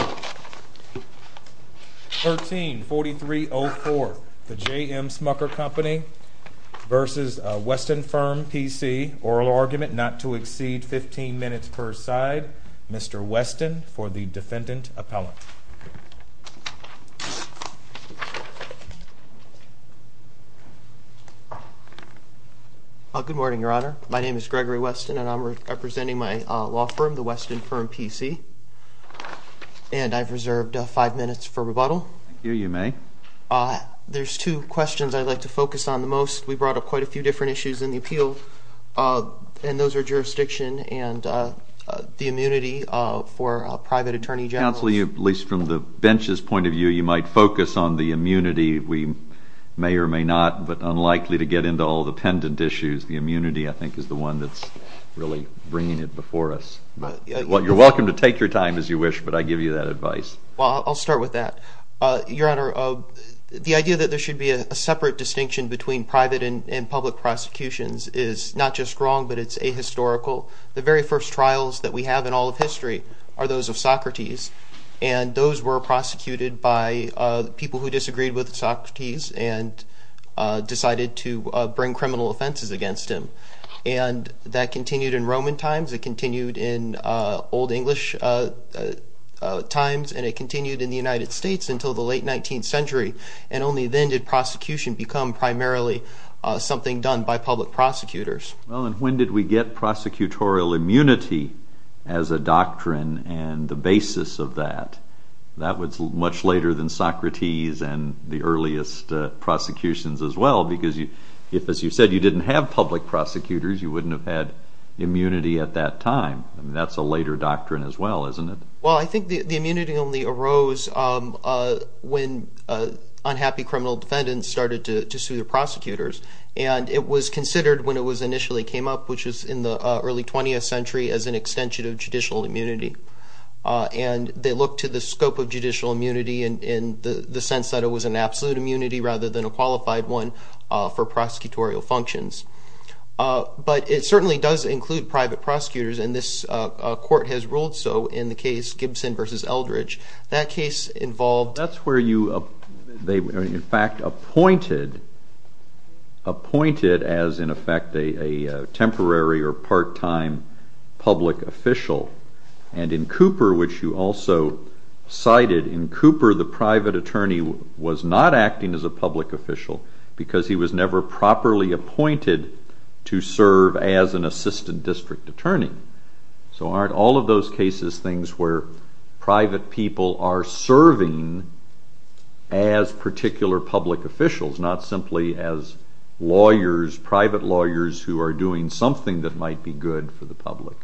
Oral argument not to exceed 15 minutes per side. Mr. Weston, for the Defendant Appellant. Good morning, Your Honor. My name is Gregory Weston, and I'm representing my law firm, the Weston Firm PC. I'm here representing the Weston Firm PC. I'm here representing the Weston Firm PC. And I've reserved five minutes for rebuttal. Thank you. You may. There's two questions I'd like to focus on the most. We brought up quite a few different issues in the appeal, and those are jurisdiction and the immunity for private attorney generals. Counsel, at least from the bench's point of view, you might focus on the immunity. We may or may not, but unlikely to get into all the pendant issues, the immunity I think is the one that's really bringing it before us. You're welcome to take your time as you wish, but I give you that advice. Well, I'll start with that. Your Honor, the idea that there should be a separate distinction between private and public prosecutions is not just wrong, but it's ahistorical. The very first trials that we have in all of history are those of Socrates, and those were prosecuted by people who disagreed with Socrates and decided to bring criminal offenses against him. And that continued in Roman times. It continued in Old English times, and it continued in the United States until the late 19th century. And only then did prosecution become primarily something done by public prosecutors. Well, and when did we get prosecutorial immunity as a doctrine and the basis of that? That was much later than Socrates and the earliest prosecutions as well, because if, as you said, you didn't have public prosecutors, you wouldn't have had immunity at that time. That's a later doctrine as well, isn't it? Well, I think the immunity only arose when unhappy criminal defendants started to sue the prosecutors, and it was considered when it was initially came up, which was in the early 20th century, as an extension of judicial immunity. And they looked to the scope of judicial immunity in the sense that it was an absolute immunity rather than a qualified one for prosecutorial functions. But it certainly does include private prosecutors, and this court has ruled so in the case Gibson v. Eldridge. That's where they were in fact appointed as, in effect, a temporary or part-time public official. And in Cooper, which you also cited, in Cooper the private attorney was not acting as a public official because he was never properly appointed to serve as an assistant district attorney. So aren't all of those cases things where private people are serving as particular public officials, not simply as lawyers, private lawyers who are doing something that might be good for the public?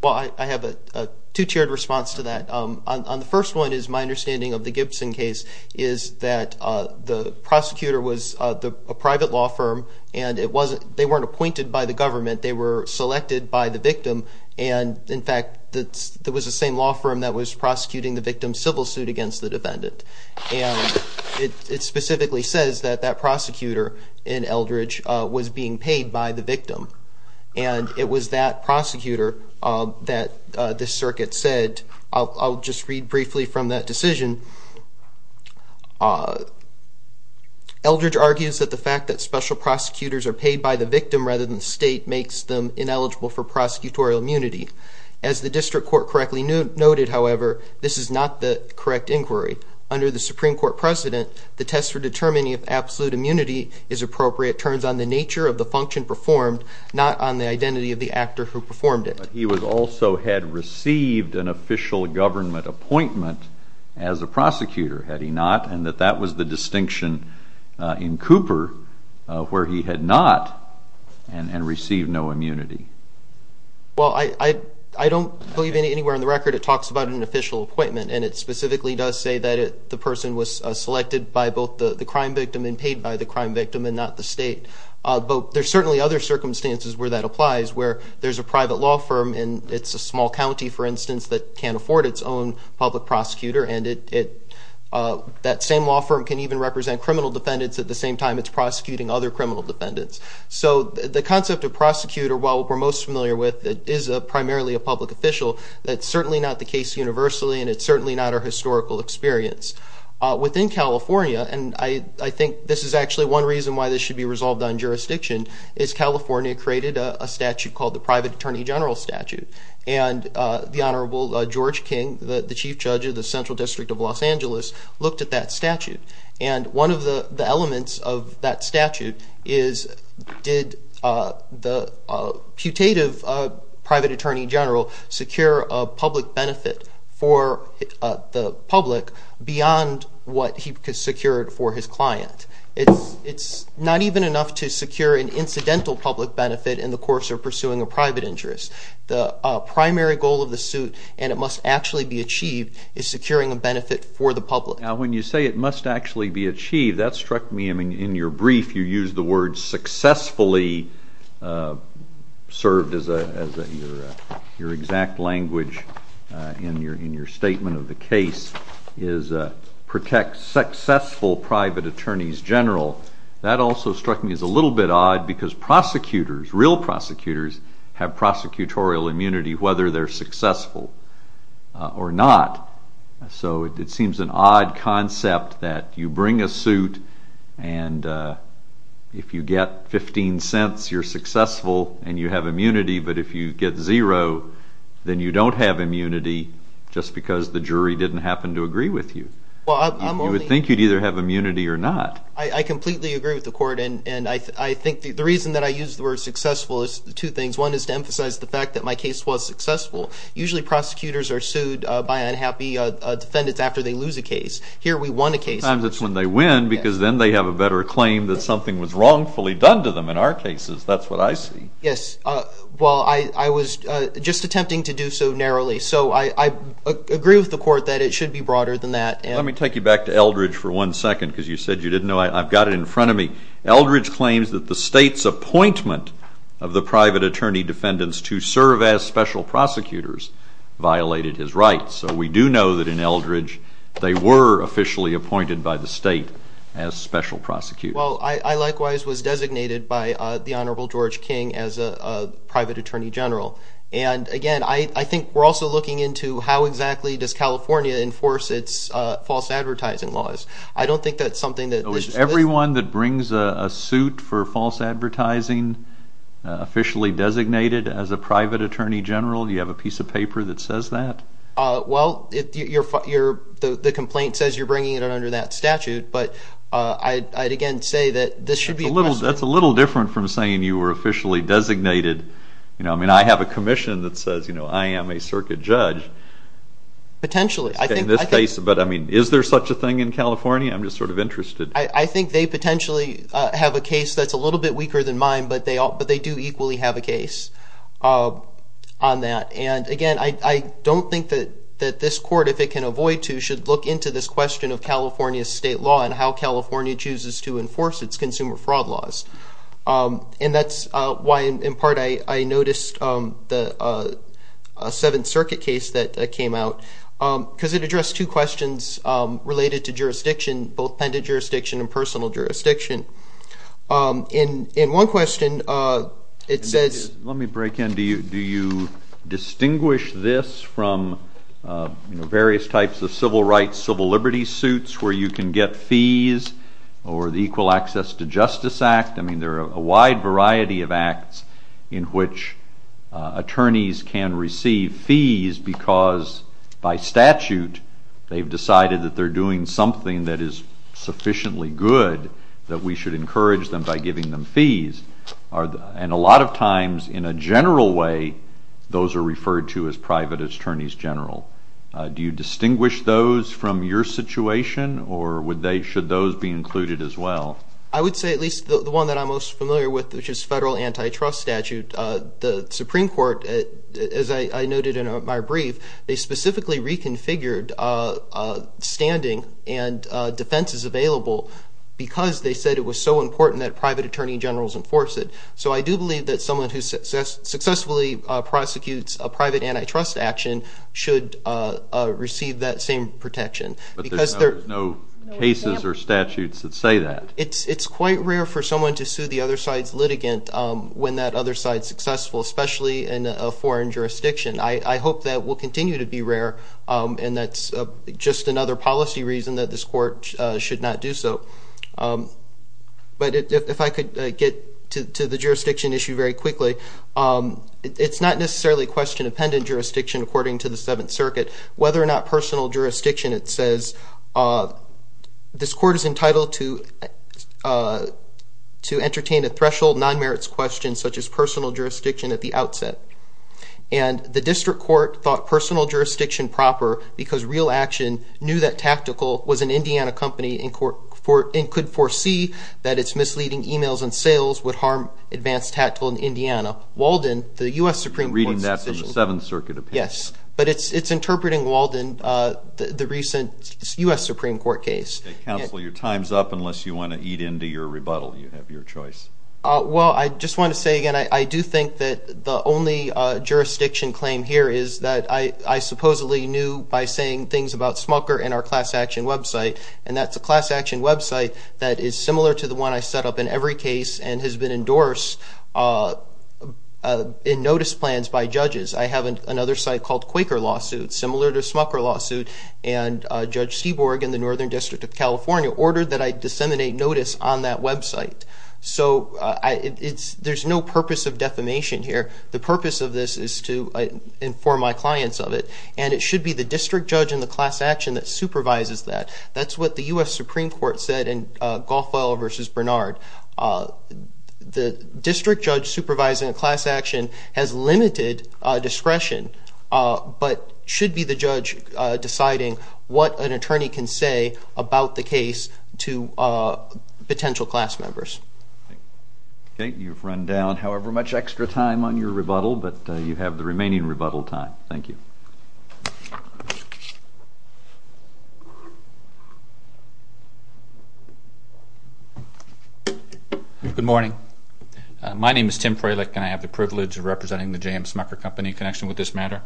Well, I have a two-tiered response to that. On the first one is my understanding of the Gibson case is that the prosecutor was a private law firm and they weren't appointed by the government, they were selected by the victim. And in fact, it was the same law firm that was prosecuting the victim's civil suit against the defendant. And it specifically says that that prosecutor in Eldridge was being paid by the victim. And it was that prosecutor that the circuit said, I'll just read briefly from that decision. Eldridge argues that the fact that special prosecutors are paid by the victim rather than the state makes them ineligible for prosecutorial immunity. As the district court correctly noted, however, this is not the correct inquiry. Under the Supreme Court precedent, the test for determining if absolute immunity is appropriate turns on the nature of the function performed, not on the identity of the actor who performed it. But he also had received an official government appointment as a prosecutor, had he not, and that that was the distinction in Cooper where he had not and received no immunity. Well, I don't believe anywhere in the record it talks about an official appointment, and it specifically does say that the person was selected by both the crime victim and paid by the crime victim and not the state. But there's certainly other circumstances where that applies, where there's a private law firm and it's a small county, for instance, that can't afford its own public prosecutor, and that same law firm can even represent criminal defendants at the same time it's prosecuting other criminal defendants. So the concept of prosecutor, while we're most familiar with, is primarily a public official. That's certainly not the case universally, and it's certainly not our historical experience. Within California, and I think this is actually one reason why this should be resolved on jurisdiction, is California created a statute called the Private Attorney General Statute, and the Honorable George King, the chief judge of the Central District of Los Angeles, looked at that statute, and one of the elements of that statute is did the putative private attorney general secure a public benefit for the public beyond what he could secure for his client. It's not even enough to secure an incidental public benefit in the course of pursuing a private interest. The primary goal of the suit, and it must actually be achieved, is securing a benefit for the public. When you say it must actually be achieved, that struck me. In your brief, you used the word successfully served as your exact language in your statement of the case, is protect successful private attorneys general. That also struck me as a little bit odd because prosecutors, real prosecutors, have prosecutorial immunity whether they're successful or not. So it seems an odd concept that you bring a suit, and if you get 15 cents, you're successful, and you have immunity, but if you get zero, then you don't have immunity just because the jury didn't happen to agree with you. You would think you'd either have immunity or not. I completely agree with the court, and I think the reason that I use the word successful is two things. One is to emphasize the fact that my case was successful. Usually prosecutors are sued by unhappy defendants after they lose a case. Here we won a case. Sometimes it's when they win because then they have a better claim that something was wrongfully done to them in our cases. That's what I see. Yes. Well, I was just attempting to do so narrowly, so I agree with the court that it should be broader than that. Let me take you back to Eldridge for one second because you said you didn't know. I've got it in front of me. Eldridge claims that the state's appointment of the private attorney defendants to serve as special prosecutors violated his rights. So we do know that in Eldridge they were officially appointed by the state as special prosecutors. Well, I likewise was designated by the Honorable George King as a private attorney general, and again, I think we're also looking into how exactly does California enforce its false advertising laws. I don't think that's something that this is. Is everyone that brings a suit for false advertising officially designated as a private attorney general? Do you have a piece of paper that says that? Well, the complaint says you're bringing it under that statute, but I'd again say that this should be a question. That's a little different from saying you were officially designated. I mean, I have a commission that says, you know, I am a circuit judge. Potentially. In this case, but I mean, is there such a thing in California? I'm just sort of interested. I think they potentially have a case that's a little bit weaker than mine, but they do equally have a case on that. And again, I don't think that this court, if it can avoid to, should look into this question of California state law and how California chooses to enforce its consumer fraud laws. And that's why in part I noticed the Seventh Circuit case that came out because it addressed two questions related to jurisdiction, both pendent jurisdiction and personal jurisdiction. In one question, it says... Let me break in. Do you distinguish this from various types of civil rights, civil liberties suits where you can get fees or the Equal Access to Justice Act? I mean, there are a wide variety of acts in which attorneys can receive fees because by statute, they've decided that they're doing something that is sufficiently good that we should encourage them by giving them fees. And a lot of times in a general way, those are referred to as private attorneys general. Do you distinguish those from your situation, or should those be included as well? I would say at least the one that I'm most familiar with, which is federal antitrust statute. The Supreme Court, as I noted in my brief, they specifically reconfigured standing and defenses available because they said it was so important that private attorney generals enforce it. So I do believe that someone who successfully prosecutes a private antitrust action should receive that same protection. But there's no cases or statutes that say that. It's quite rare for someone to sue the other side's litigant when that other side's successful, especially in a foreign jurisdiction. I hope that will continue to be rare, and that's just another policy reason that this court should not do so. But if I could get to the jurisdiction issue very quickly, it's not necessarily question-dependent jurisdiction, according to the Seventh Circuit. Whether or not personal jurisdiction, it says this court is entitled to entertain a threshold non-merits question, such as personal jurisdiction, at the outset. And the district court thought personal jurisdiction proper because real action knew that tactical was an Indiana company and could foresee that its misleading emails and sales would harm advanced tactical in Indiana. Walden, the U.S. Supreme Court's decision. You're reading that from the Seventh Circuit, apparently. Yes, but it's interpreting Walden, the recent U.S. Supreme Court case. Counsel, your time's up unless you want to eat into your rebuttal. You have your choice. Well, I just want to say again, I do think that the only jurisdiction claim here is that I supposedly knew by saying things about Smulker and our class action website, and that's a class action website that is similar to the one I set up in every case and has been endorsed in notice plans by judges. I have another site called Quaker Lawsuit, similar to Smulker Lawsuit, and Judge Seaborg in the Northern District of California ordered that I disseminate notice on that website. So there's no purpose of defamation here. The purpose of this is to inform my clients of it, and it should be the district judge in the class action that supervises that. That's what the U.S. Supreme Court said in Goffwell v. Bernard. The district judge supervising a class action has limited discretion but should be the judge deciding what an attorney can say about the case to potential class members. Okay, you've run down however much extra time on your rebuttal, but you have the remaining rebuttal time. Thank you. Good morning. My name is Tim Freilich, and I have the privilege of representing the J.M. Smulker Company in connection with this matter.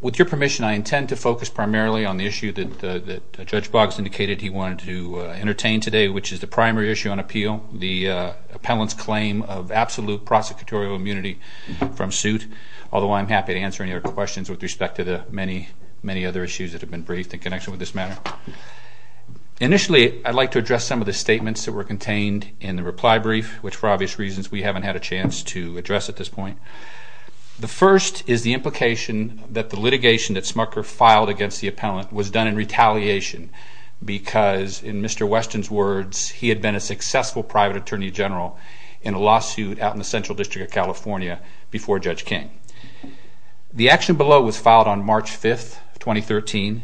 With your permission, I intend to focus primarily on the issue that Judge Boggs indicated he wanted to entertain today, which is the primary issue on appeal, the appellant's claim of absolute prosecutorial immunity from suit, although I'm happy to answer any other questions with respect to the many, many other issues that have been briefed in connection with this matter. Initially, I'd like to address some of the statements that were contained in the reply brief, which for obvious reasons we haven't had a chance to address at this point. The first is the implication that the litigation that Smulker filed against the appellant was done in retaliation because, in Mr. Weston's words, he had been a successful private attorney general in a lawsuit out in the Central District of California before Judge King. The action below was filed on March 5th, 2013,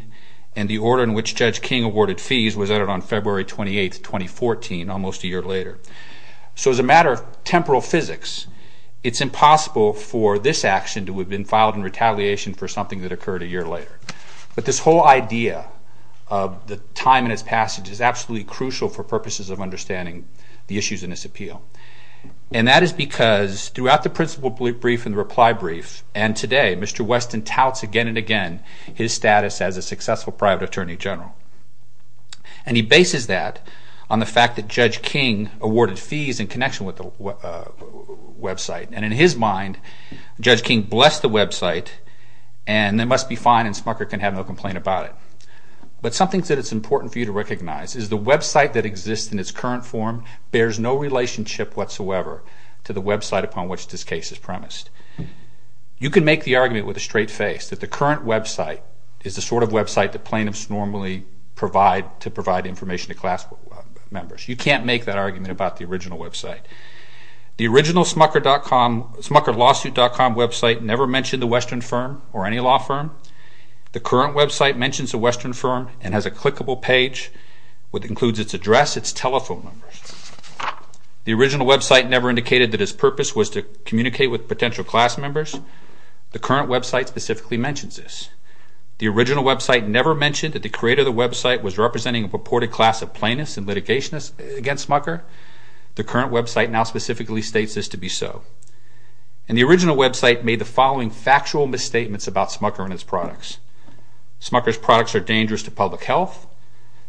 and the order in which Judge King awarded fees was added on February 28th, 2014, almost a year later. So as a matter of temporal physics, it's impossible for this action to have been filed in retaliation for something that occurred a year later. But this whole idea of the time in its passage is absolutely crucial for purposes of understanding the issues in this appeal. And that is because throughout the principle brief and the reply brief, and today, Mr. Weston touts again and again his status as a successful private attorney general. And he bases that on the fact that Judge King awarded fees in connection with the website. And in his mind, Judge King blessed the website, and they must be fine and Smulker can have no complaint about it. But something that is important for you to recognize is the website that exists in its current form bears no relationship whatsoever to the website upon which this case is premised. You can make the argument with a straight face that the current website is the sort of website that plaintiffs normally provide to provide information to class members. You can't make that argument about the original website. The original SmuckerLawsuit.com website never mentioned the Western Firm or any law firm. The current website mentions the Western Firm and has a clickable page which includes its address, its telephone number. The original website never indicated that its purpose was to communicate with potential class members. The current website specifically mentions this. The original website never mentioned that the creator of the website was representing a purported class of plaintiffs and litigation against Smucker. The current website now specifically states this to be so. And the original website made the following factual misstatements about Smucker and its products. Smucker's products are dangerous to public health.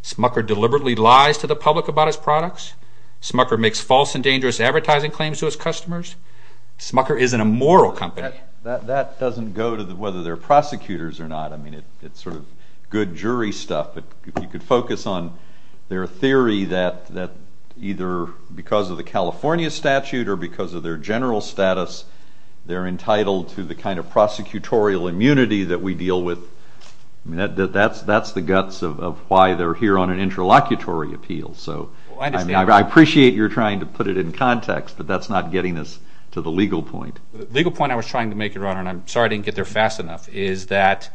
Smucker deliberately lies to the public about his products. Smucker makes false and dangerous advertising claims to his customers. Smucker is an immoral company. That doesn't go to whether they're prosecutors or not. I mean, it's sort of good jury stuff, but you could focus on their theory that either because of the California statute or because of their general status, they're entitled to the kind of prosecutorial immunity that we deal with. I mean, that's the guts of why they're here on an interlocutory appeal. So I appreciate you're trying to put it in context, but that's not getting us to the legal point. The legal point I was trying to make, Your Honor, and I'm sorry I didn't get there fast enough, is that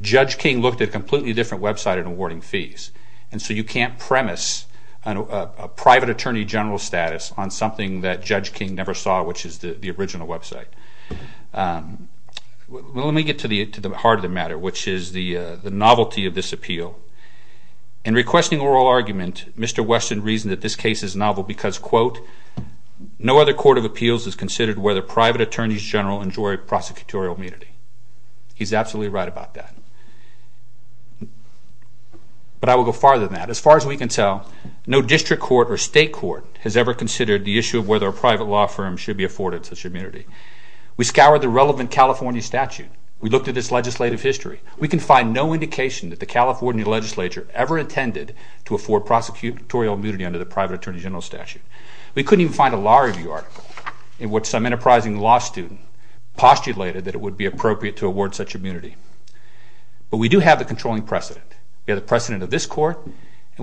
Judge King looked at a completely different website in awarding fees. And so you can't premise a private attorney general status on something that Judge King never saw, which is the original website. Let me get to the heart of the matter, which is the novelty of this appeal. In requesting oral argument, Mr. Weston reasoned that this case is novel because, quote, no other court of appeals has considered whether private attorneys general enjoy prosecutorial immunity. He's absolutely right about that. But I will go farther than that. As far as we can tell, no district court or state court has ever considered the issue of whether a private law firm should be afforded such immunity. We scoured the relevant California statute. We looked at its legislative history. We can find no indication that the California legislature ever intended to afford prosecutorial immunity under the private attorney general statute. We couldn't even find a law review article in which some enterprising law student postulated that it would be appropriate to award such immunity. But we do have the controlling precedent. We have the precedent of this court, and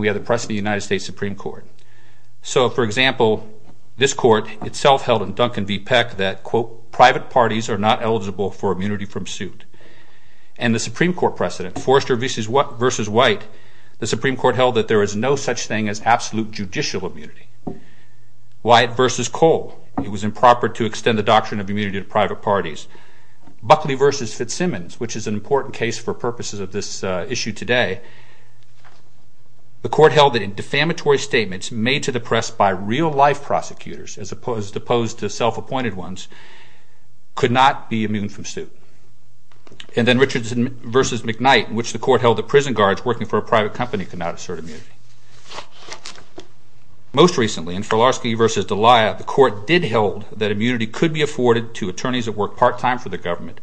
we have the precedent of the United States Supreme Court. So, for example, this court itself held in Duncan v. Peck that, quote, private parties are not eligible for immunity from suit. And the Supreme Court precedent, Forrester v. White, the Supreme Court held that there is no such thing as absolute judicial immunity. White v. Cole, it was improper to extend the doctrine of immunity to private parties. Buckley v. Fitzsimmons, which is an important case for purposes of this issue today, the court held that defamatory statements made to the press by real-life prosecutors as opposed to self-appointed ones could not be immune from suit. And then Richards v. McKnight, in which the court held that prison guards working for a private company could not assert immunity. Most recently, in Filarski v. D'Elia, the court did hold that immunity could be afforded to attorneys that work part-time for the government,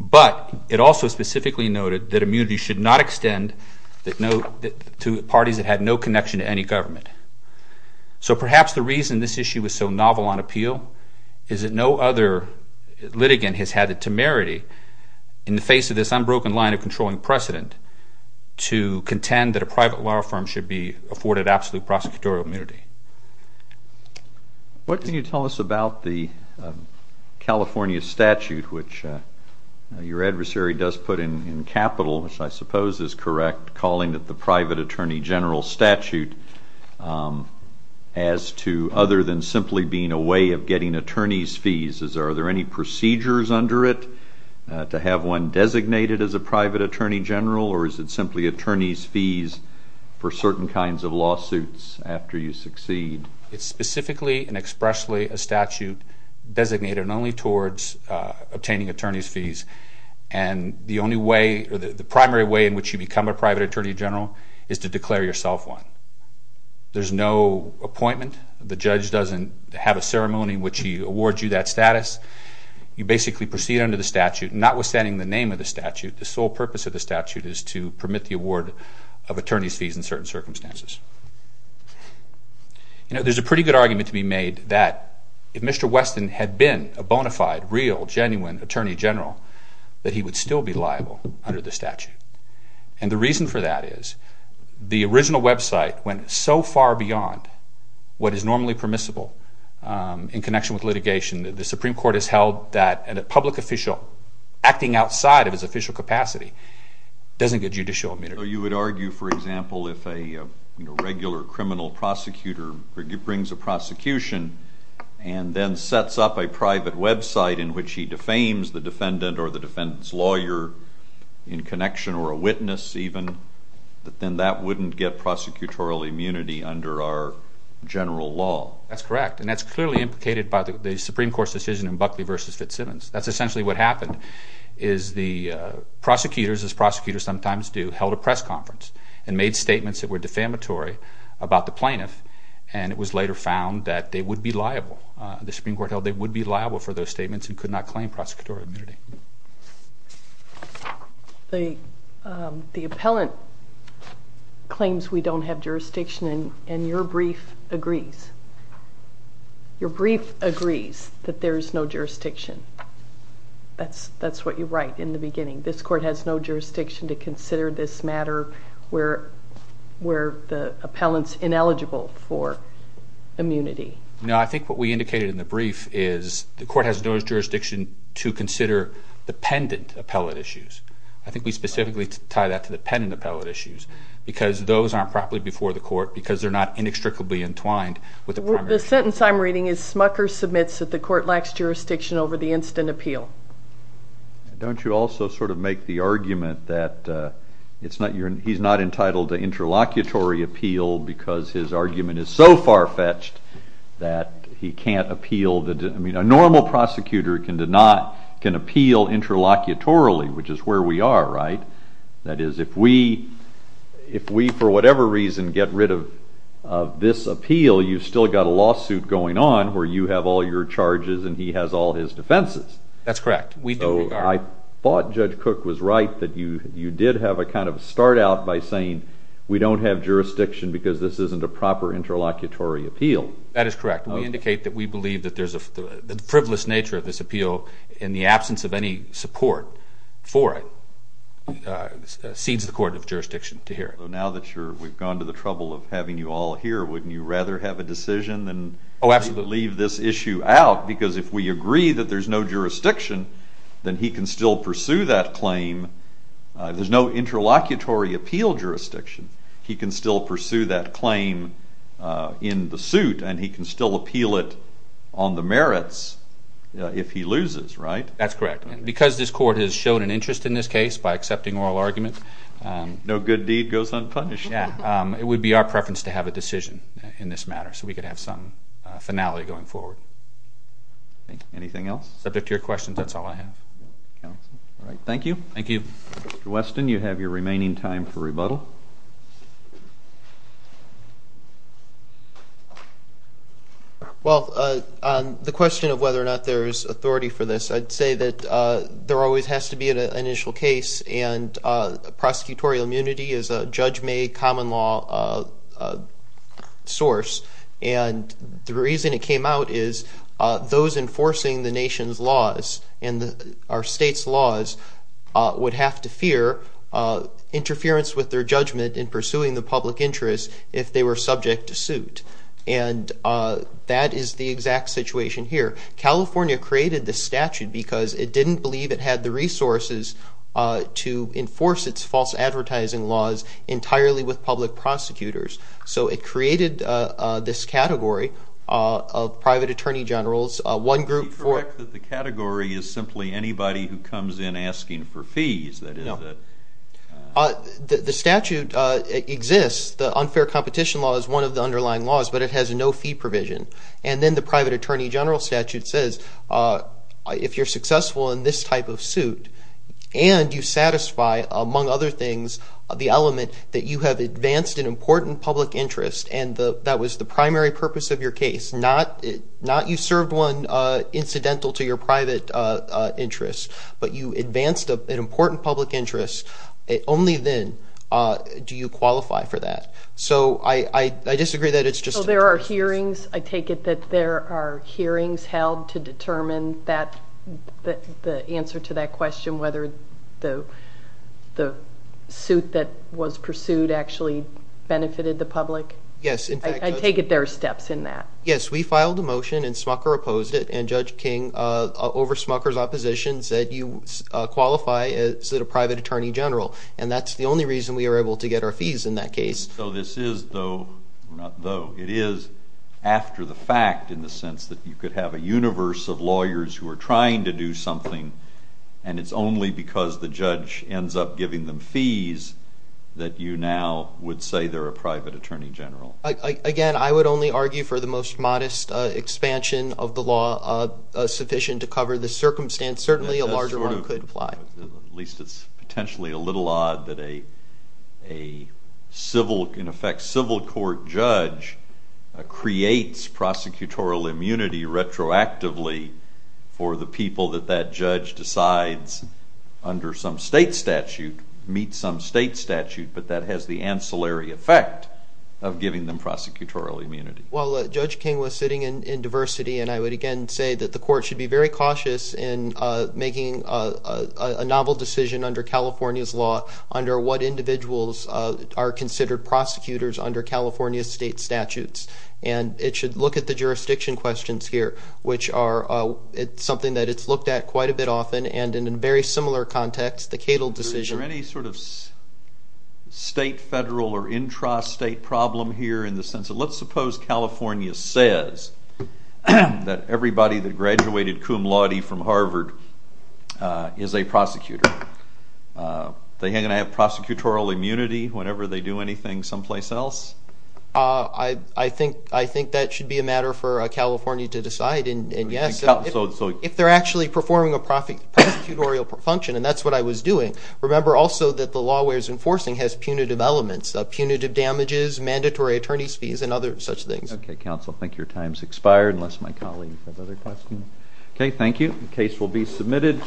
but it also specifically noted that immunity should not extend to parties that had no connection to any government. So perhaps the reason this issue was so novel on appeal is that no other litigant has had the temerity in the face of this unbroken line of controlling precedent to contend that a private law firm should be afforded absolute prosecutorial immunity. What can you tell us about the California statute, which your adversary does put in capital, which I suppose is correct, calling it the private attorney general statute, as to other than simply being a way of getting attorney's fees, are there any procedures under it to have one designated as a private attorney general or is it simply attorney's fees for certain kinds of lawsuits after you succeed? It's specifically and expressly a statute designated only towards obtaining attorney's fees, and the primary way in which you become a private attorney general is to declare yourself one. There's no appointment. The judge doesn't have a ceremony in which he awards you that status. You basically proceed under the statute, notwithstanding the name of the statute. The sole purpose of the statute is to permit the award of attorney's fees in certain circumstances. There's a pretty good argument to be made that if Mr. Weston had been a bona fide, real, genuine attorney general, that he would still be liable under the statute. And the reason for that is the original website went so far beyond what is normally permissible in connection with litigation that the Supreme Court has held that a public official acting outside of his official capacity doesn't get judicial immunity. So you would argue, for example, if a regular criminal prosecutor brings a prosecution and then sets up a private website in which he defames the defendant or the defendant's lawyer in connection or a witness even, that then that wouldn't get prosecutorial immunity under our general law? That's correct, and that's clearly implicated by the Supreme Court's decision in Buckley v. Fitzsimmons. That's essentially what happened is the prosecutors, as prosecutors sometimes do, held a press conference and made statements that were defamatory about the plaintiff, and it was later found that they would be liable. The Supreme Court held they would be liable for those statements and could not claim prosecutorial immunity. The appellant claims we don't have jurisdiction, and your brief agrees. Your brief agrees that there is no jurisdiction. That's what you write in the beginning. This court has no jurisdiction to consider this matter where the appellant's ineligible for immunity. No, I think what we indicated in the brief is the court has no jurisdiction to consider dependent appellate issues. I think we specifically tie that to dependent appellate issues because those aren't properly before the court because they're not inextricably entwined with the primary issue. The sentence I'm reading is Smucker submits that the court lacks jurisdiction over the instant appeal. Don't you also sort of make the argument that he's not entitled to interlocutory appeal because his argument is so far-fetched that he can't appeal? I mean, a normal prosecutor can appeal interlocutorily, which is where we are, right? That is, if we, for whatever reason, get rid of this appeal, you've still got a lawsuit going on where you have all your charges and he has all his defenses. That's correct. We do. So I thought Judge Cook was right that you did have a kind of start-out by saying we don't have jurisdiction because this isn't a proper interlocutory appeal. That is correct. We indicate that we believe that the frivolous nature of this appeal in the absence of any support for it cedes the court of jurisdiction to hear it. So now that we've gone to the trouble of having you all here, wouldn't you rather have a decision than leave this issue out? Oh, absolutely. Because if we agree that there's no jurisdiction, then he can still pursue that claim. There's no interlocutory appeal jurisdiction. He can still pursue that claim in the suit and he can still appeal it on the merits if he loses, right? That's correct. Because this court has shown an interest in this case by accepting oral arguments. No good deed goes unpunished. Yeah. It would be our preference to have a decision in this matter so we could have some finality going forward. Anything else? Subject to your questions, that's all I have. All right. Thank you. Thank you. Mr. Weston, you have your remaining time for rebuttal. Well, on the question of whether or not there is authority for this, I'd say that there always has to be an initial case and prosecutorial immunity is a judge-made common law source. And the reason it came out is those enforcing the nation's laws and our state's laws would have to fear interference with their judgment in pursuing the public interest if they were subject to suit. And that is the exact situation here. California created this statute because it didn't believe it had the resources to enforce its false advertising laws entirely with public prosecutors. So it created this category of private attorney generals. Would you correct that the category is simply anybody who comes in asking for fees? No. The statute exists. The unfair competition law is one of the underlying laws, but it has no fee provision. And then the private attorney general statute says if you're successful in this type of suit and you satisfy, among other things, the element that you have advanced an important public interest and that was the primary purpose of your case. Not you served one incidental to your private interest, but you advanced an important public interest, only then do you qualify for that. So I disagree that it's just an interest. So there are hearings. I take it that there are hearings held to determine the answer to that question, whether the suit that was pursued actually benefited the public. Yes. I take it there are steps in that. Yes, we filed a motion and Smucker opposed it, and Judge King, over Smucker's opposition, said you qualify as a private attorney general, and that's the only reason we were able to get our fees in that case. So this is though, not though, it is after the fact in the sense that you could have a universe of lawyers who are trying to do something, and it's only because the judge ends up giving them fees that you now would say they're a private attorney general. Again, I would only argue for the most modest expansion of the law sufficient to cover the circumstance. Certainly a larger one could apply. At least it's potentially a little odd that a civil, in effect, civil court judge creates prosecutorial immunity retroactively for the people that that judge decides under some state statute meets some state statute, but that has the ancillary effect of giving them prosecutorial immunity. Well, Judge King was sitting in diversity, and I would again say that the court should be very cautious in making a novel decision under California's law under what individuals are considered prosecutors under California state statutes, and it should look at the jurisdiction questions here, which are something that it's looked at quite a bit often, and in a very similar context, the Cato decision. Is there any sort of state, federal, or intra-state problem here in the sense that, let's suppose California says that everybody that graduated cum laude from Harvard is a prosecutor. Are they going to have prosecutorial immunity whenever they do anything someplace else? I think that should be a matter for California to decide, and yes, if they're actually performing a prosecutorial function, and that's what I was doing, remember also that the law we're enforcing has punitive elements of punitive damages, mandatory attorney's fees, and other such things. Okay, counsel, I think your time has expired, unless my colleagues have other questions. Okay, thank you. The case will be submitted.